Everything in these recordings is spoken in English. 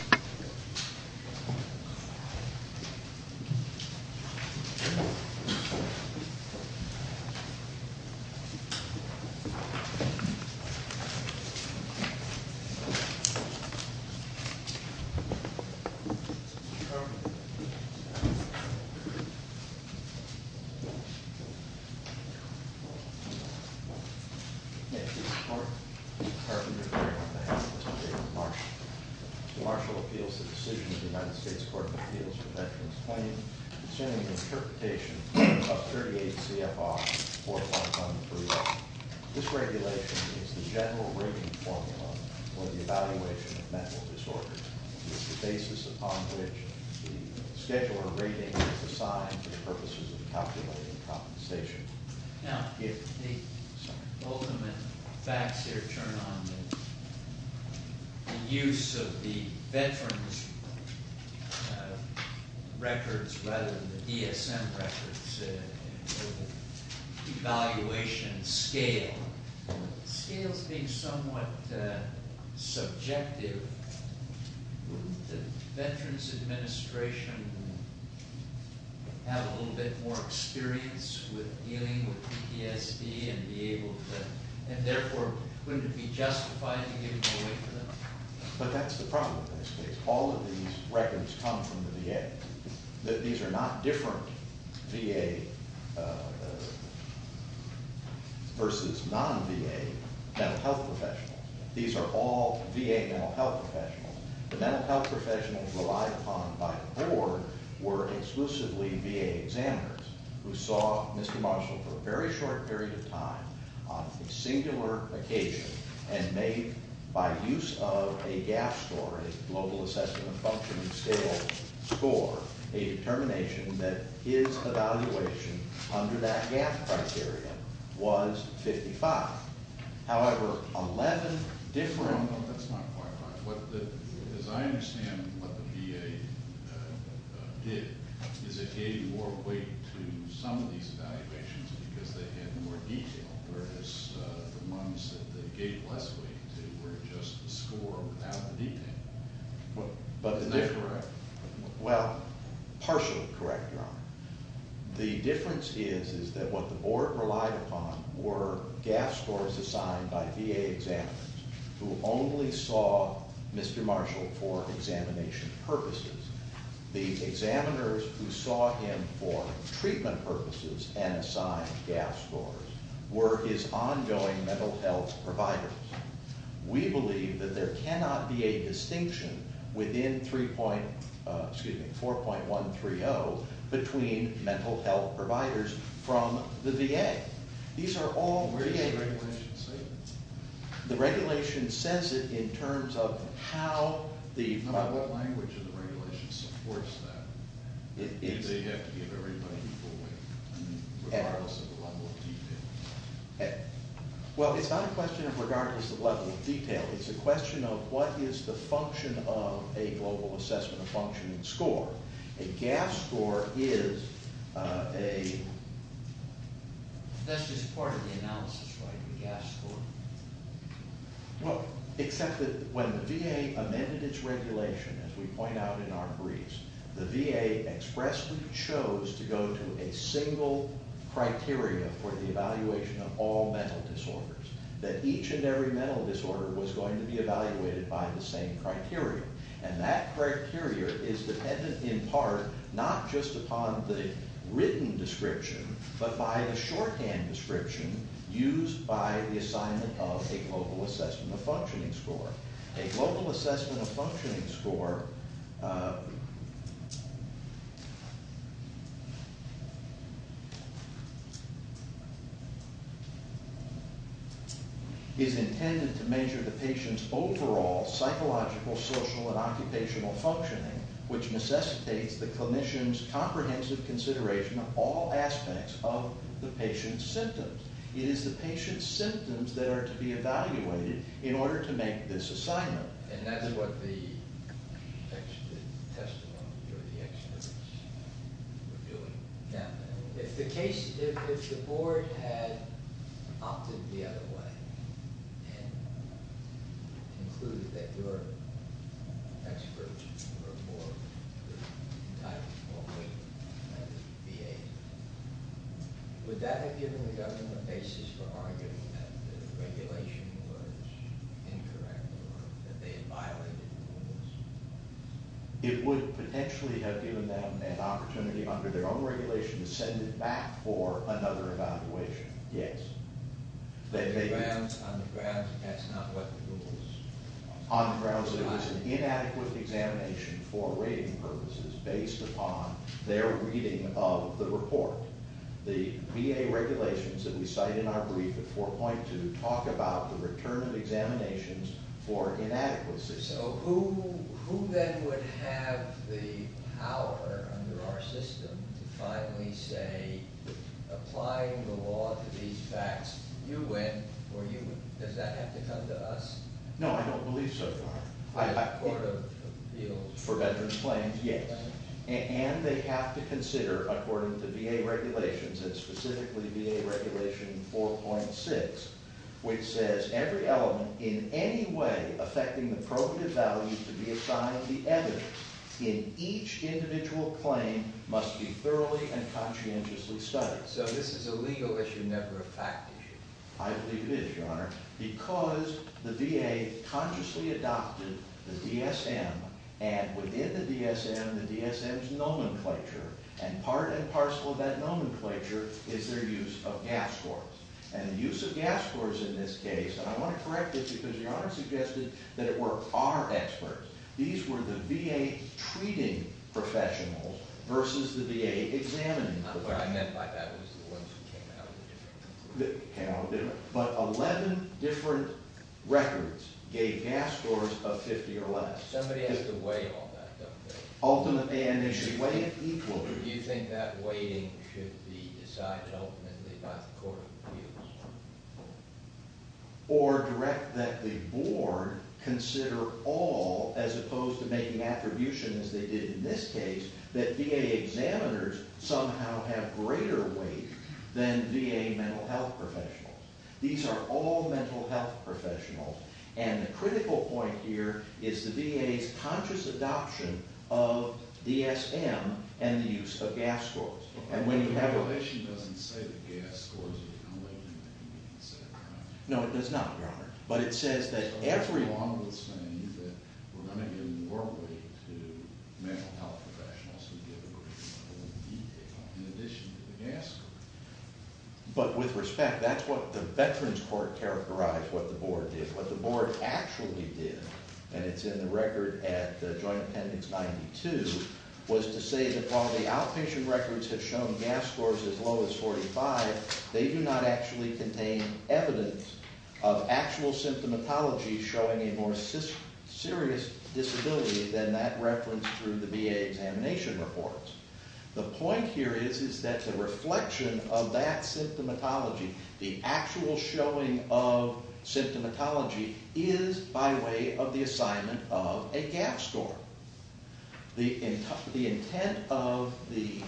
Hey. Hey. Just kidding. He said just issue. The United States Court of Appeals for Veterans Plain saying interpretation of 38 CFR for a month on the three. This regulation is the general rating formula for the evaluation of mental disorders is the basis upon which the scheduler rating is assigned for purposes of calculating compensation. Now, the ultimate facts here turn on the use of the veterans records rather than the DSM records. Evaluation scale scales being somewhat subjective. Veterans administration have a little bit more experience with dealing with PTSD and be able to and therefore wouldn't it be justified to give it away to them. But that's the problem. All of these records come from the VA that these are not different VA versus non-VA health professional. These are all VA mental health professionals. The mental health professionals relied upon by the board were exclusively VA examiners who saw Mr. Marshall for a very short period of time on a singular occasion and made by use of a gap story global assessment function and scale score a determination that his evaluation under that gap criteria was 55. However, 11 different as I understand what the VA did is it gave more weight to some of these valuations because they had more detail whereas the ones that they gave less weight to were just the score without the detail. But is that correct? Well, partially correct. The difference is that what the board relied upon were gap scores assigned by VA examiners who only saw Mr. Marshall for examination purposes. These examiners who saw him for treatment purposes and assigned gap scores were his ongoing mental health providers. We believe that there cannot be a distinction within three point excuse me four point one three oh between mental health providers from the VA. These are all the regulations. The regulation says it in terms of how the language of the regardless of the level of detail. Well, it's not a question of regardless of level of detail. It's a question of what is the function of a global assessment of function and score. A gap score is a. That's just part of the analysis. Well, except that when the VA amended its regulation, as we point out in our briefs, the VA expressly chose to go to a single criteria for the evaluation of all mental disorders, that each and every mental disorder was going to be evaluated by the same criteria. And that criteria is dependent in part not just upon the written description, but by the shorthand description used by the assignment of a global assessment of functioning score. A global assessment of functioning score. Is intended to measure the patient's overall psychological, social and occupational functioning, which necessitates the clinician's comprehensive consideration of all aspects of the patient's symptoms. It is the patient's symptoms that are to be evaluated in this assignment. And that's what the. If the case, if the board had opted the other way. Would that have given the government a basis for arguing that the regulation was incorrect or that they had violated the rules? It would potentially have given them an opportunity under their own regulation to send it back for another evaluation. Yes. They may be on the grounds that that's not what the rules. On the grounds that it was an inadequate examination for rating purposes based upon their reading of the report. The VA regulations that we cite in our brief at 4.2 talk about the return of examinations for inadequacy. So who then would have the power under our system to finally say applying the law to these facts? You win or you win. Does that have to come to us? No, I don't believe so. For veterans claims. Yes. And they have to consider according to VA regulations and specifically VA regulation 4.6, which says every element in any way affecting the probative value to be assigned the evidence in each individual claim must be thoroughly and conscientiously studied. So this is a legal issue, never a fact. I believe it is, Your Honor, because the VA consciously adopted the DSM and within the DSM, the DSM's nomenclature, and part and parcel of that nomenclature is their use of GAF scores. And the use of GAF scores in this case, and I want to correct it because Your Honor suggested that it were our experts. These were the VA treating professionals versus the VA examining. Not what I meant by that was the ones who came out of the different records. They came out of different, but 11 different records gave GAF scores of 50 or less. Somebody has to weigh all that, don't they? Ultimately, and they should weigh it equally. Do you think that weighting should be decided ultimately by the court of appeals? Or direct that the board consider all as opposed to making attribution as they did in this case, that VA examiners somehow have greater weight than VA mental health professionals. These are all mental health professionals. And the critical point here is the VA's conscious adoption of DSM and the use of GAF scores. And when you have a- The revolution doesn't say that GAF scores are going to weigh more than the VA, does it, Your Honor? No, it does not, Your Honor. But it says that everyone would say that we're going to give more weight to mental health professionals who give a greater amount than the VA, in addition to the GAF scores. But with respect, that's what the Veterans Court characterized what the board did. What the board actually did, and it's in the record at Joint Appendix 92, was to say that while the outpatient records have shown GAF scores as low as 45, they do not actually contain evidence of actual symptomatology showing a more serious disability than that referenced through the VA examination reports. The point here is, is that the reflection of that symptomatology, the actual showing of symptomatology, is by way of the assignment of a GAF score. The intent of the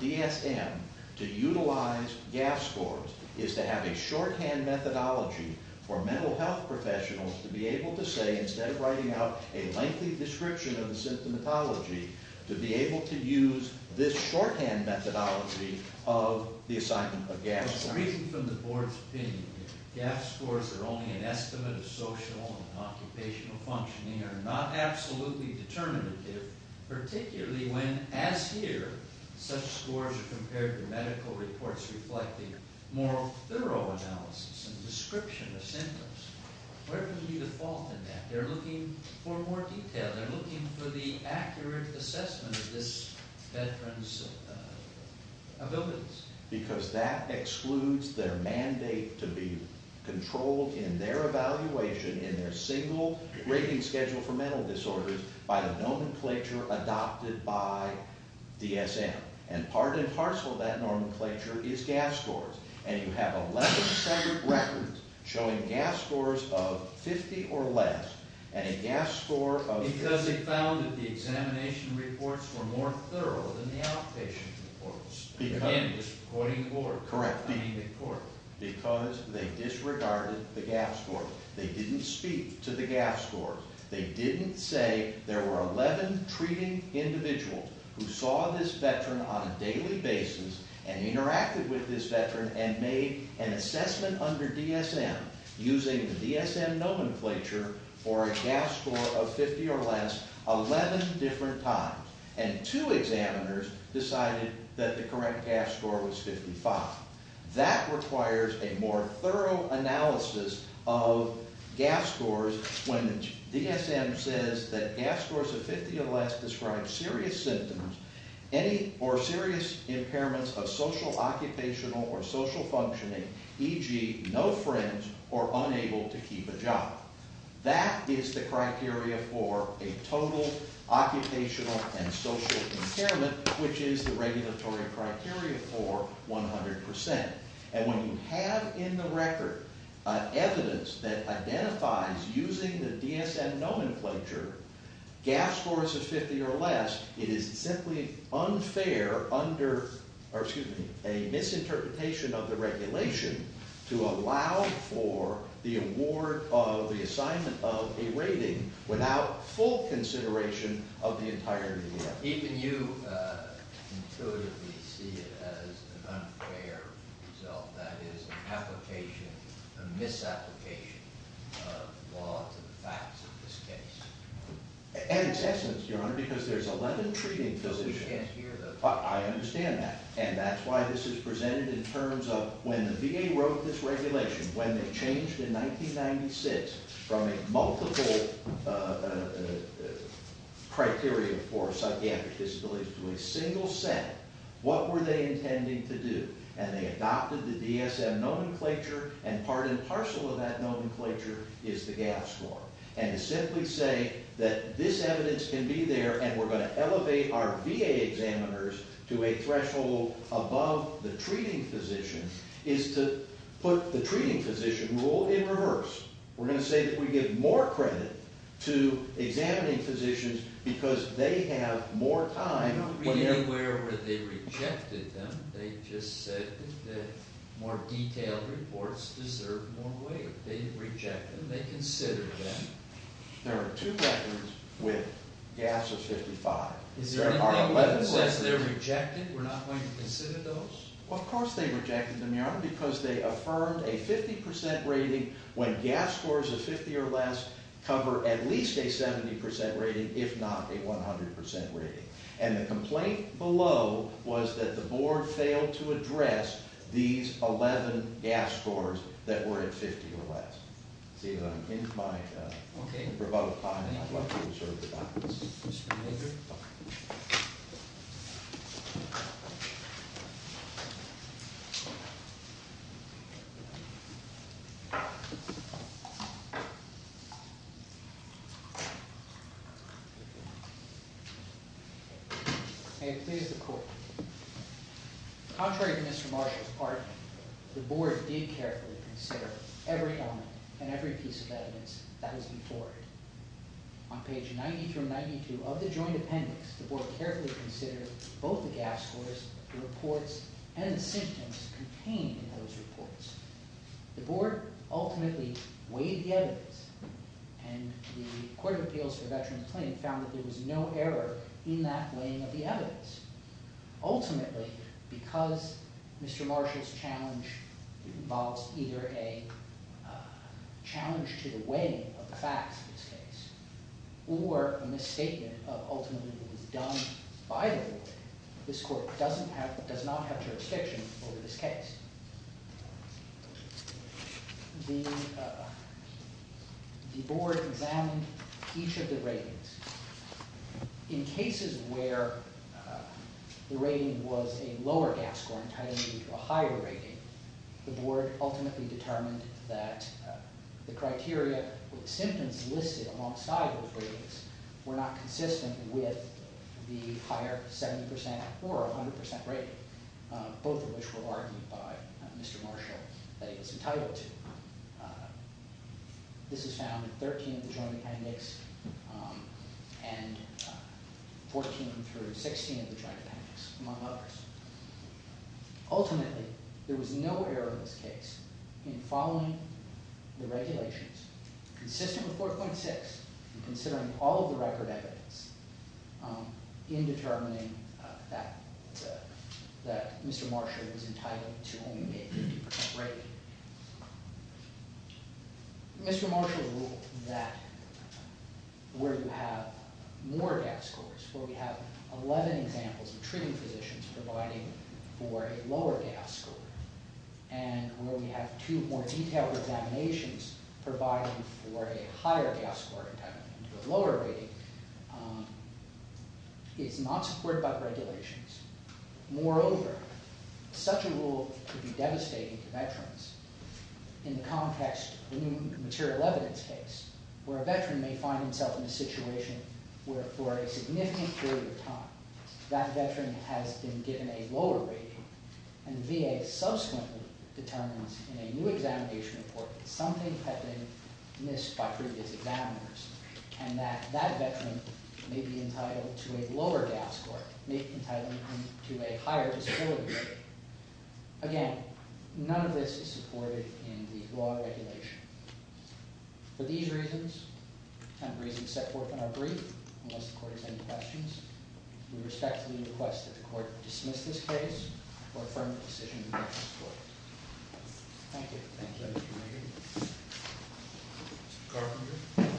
DSM to utilize GAF scores is to have a shorthand methodology for mental health professionals to be able to say, instead of writing out a lengthy description of the symptomatology, to be able to use this shorthand methodology of the assignment of GAF scores. But reading from the board's opinion, GAF scores are only an estimate of social and occupational functioning and are not absolutely determinative, particularly when, as here, such scores are compared to medical reports reflecting more thorough analysis and description of symptoms. Where could be the fault in that? They're looking for more detail. They're looking for the accurate assessment of this veteran's abilities. Because that excludes their mandate to be controlled in their evaluation in their single rating schedule for mental disorders by the nomenclature adopted by DSM. And part and parcel of that nomenclature is GAF scores. And you have 11 separate records showing GAF scores of 50 or less and a GAF score of 50. Because they found that the examination reports were more thorough than the outpatient reports. Again, this is according to the board. Correct. I mean the court. Because they disregarded the GAF score. They didn't speak to the GAF score. They didn't say there were 11 treating individuals who saw this veteran on a daily basis and interacted with this veteran and made an assessment under DSM using the DSM nomenclature for a GAF score of 50 or less 11 different times and two examiners decided that the correct GAF score was 55. That requires a more thorough analysis of GAF scores when DSM says that GAF scores of 50 or less describe serious symptoms or serious impairments of social occupational or social functioning, e.g. no friends or unable to keep a job. That is the criteria for a total occupational and social impairment, which is the regulatory criteria for 100%. And when you have in the record evidence that identifies using the DSM nomenclature GAF scores of 50 or less, it is simply unfair under, or excuse me, a misinterpretation of the regulation to allow for the award of the assignment of a rating without full consideration of the entirety of the award. Even you intuitively see it as an unfair result, that is an application, a misapplication of law to the facts of this case. And it's essence, Your Honor, because there's 11 treating positions. So we can't hear them. I understand that. And that's why this is presented in terms of when the VA wrote this regulation, when they changed in 1996 from a multiple criteria for psychiatric disabilities to a single set, what were they intending to do? And they adopted the DSM nomenclature, and part and parcel of that nomenclature is the GAF score. And to simply say that this evidence can be there and we're a threshold above the treating position is to put the treating position rule in reverse. We're going to say that we give more credit to examining physicians because they have more time. I don't read anywhere where they rejected them. They just said that more detailed reports deserve more weight. They reject them. They consider them. There are two records with GAFs of 55. Is there anything that says they're rejected? We're not going to consider those? Well, of course they rejected them, Your Honor, because they affirmed a 50% rating when GAF scores of 50 or less cover at least a 70% rating, if not a 100% rating. And the complaint below was that the board failed to address these 11 GAF scores that were at 50 or less. Seeing that I'm in my rebuttal time, I'd like to make a motion to adjourn the hearing. May it please the Court. Contrary to Mr. Marshall's argument, the board did carefully consider every element and every piece of evidence that was before it. On page 90 through 92 of the joint appendix, the board carefully considered both the GAF scores, the reports, and the symptoms contained in those reports. The board ultimately weighed the evidence, and the Court of Appeals for Veterans Claim found that there was no error in that weighing of the evidence. Ultimately, because Mr. Marshall's challenge involves either a challenge to the weighing of the facts of this case or a misstatement of ultimately what was done by the board, this court does not have jurisdiction over this case. The board examined each of the ratings. In cases where the rating was a lower GAF score and tied into a higher rating, the board ultimately determined that the criteria with symptoms listed alongside those ratings were not consistent with the higher 70 percent or 100 percent rating, both of which were argued by Mr. Marshall that he was entitled to. This is found in 13 of the joint appendix and 14 through 16 of the joint appendix, among others. Ultimately, there was no error in this case in following the regulations consistent with 4.6 and considering all of the record evidence in determining that Mr. Marshall was entitled to only a 50 percent rating. Mr. Marshall ruled that where you have more GAF scores, where we have 11 examples of treating physicians providing for a lower GAF score, and where we have two more detailed examinations providing for a higher GAF score and tied into a lower rating, is not supported by the regulations. Moreover, such a rule could be devastating to veterans in the context of a new material evidence case where a veteran may find himself in a situation where for a significant period of time that veteran has been given a lower rating and VA subsequently determines in a new examination report that something had been missed by previous examiners and that that veteran may be entitled to a lower GAF score, may be entitled to a higher disability score. Again, none of this is supported in the law regulation. For these reasons, and the reasons set forth in our brief, unless the Court has any questions, we respectfully request that the Court dismiss this case or affirm the decision in the next court. Thank you. Thank you, Mr. Reagan. Mr. Carpenter?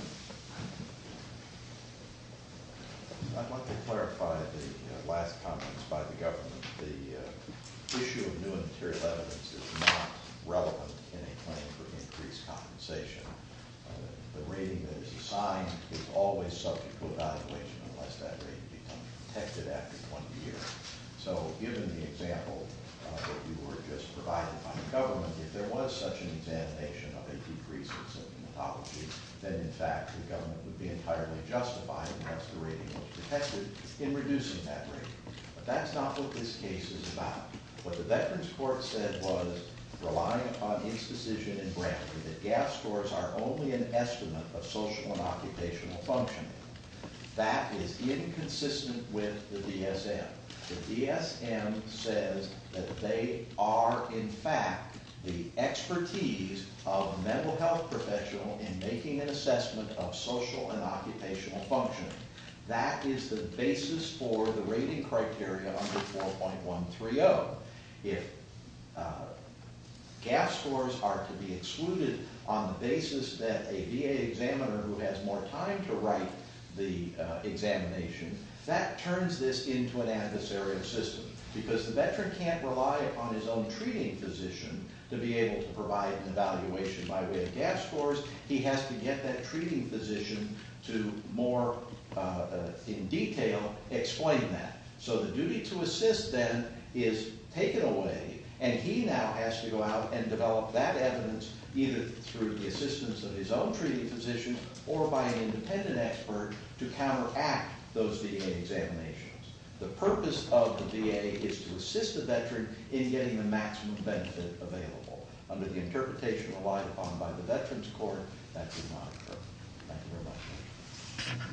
I'd like to clarify the last comments by the government. The issue of new material evidence is not relevant in a case of increased compensation. The rating that is assigned is always subject to evaluation unless that rating becomes protected after 20 years. So given the example that you were just providing by the government, if there was such an examination of a decrease in symptomatology, then in fact the government would be entirely justified, unless the rating was protected, in reducing that rating. But that's not what this case is about. What the Veterans Court said was relying upon incision and grant, that gap scores are only an estimate of social and occupational function. That is inconsistent with the DSM. The DSM says that they are, in fact, the expertise of a mental health professional in making an assessment of social and occupational function. That is the basis for the rating criteria under 4.130. If gap scores are to be excluded on the basis that a VA examiner who has more time to write the examination, that turns this into an adversarial system. Because the veteran can't rely upon his own treating physician to be able to provide an evaluation by way of gap scores. He has to get that treating physician to more in detail explain that. So the duty to assist then is taken away and he now has to go out and develop that evidence either through the assistance of his own treating physician or by an independent expert to counteract those VA examinations. The purpose of the VA is to assist the veteran in getting the maximum benefit available. Under the interpretation relied upon by the Veterans Court, that does not occur. Thank you very much.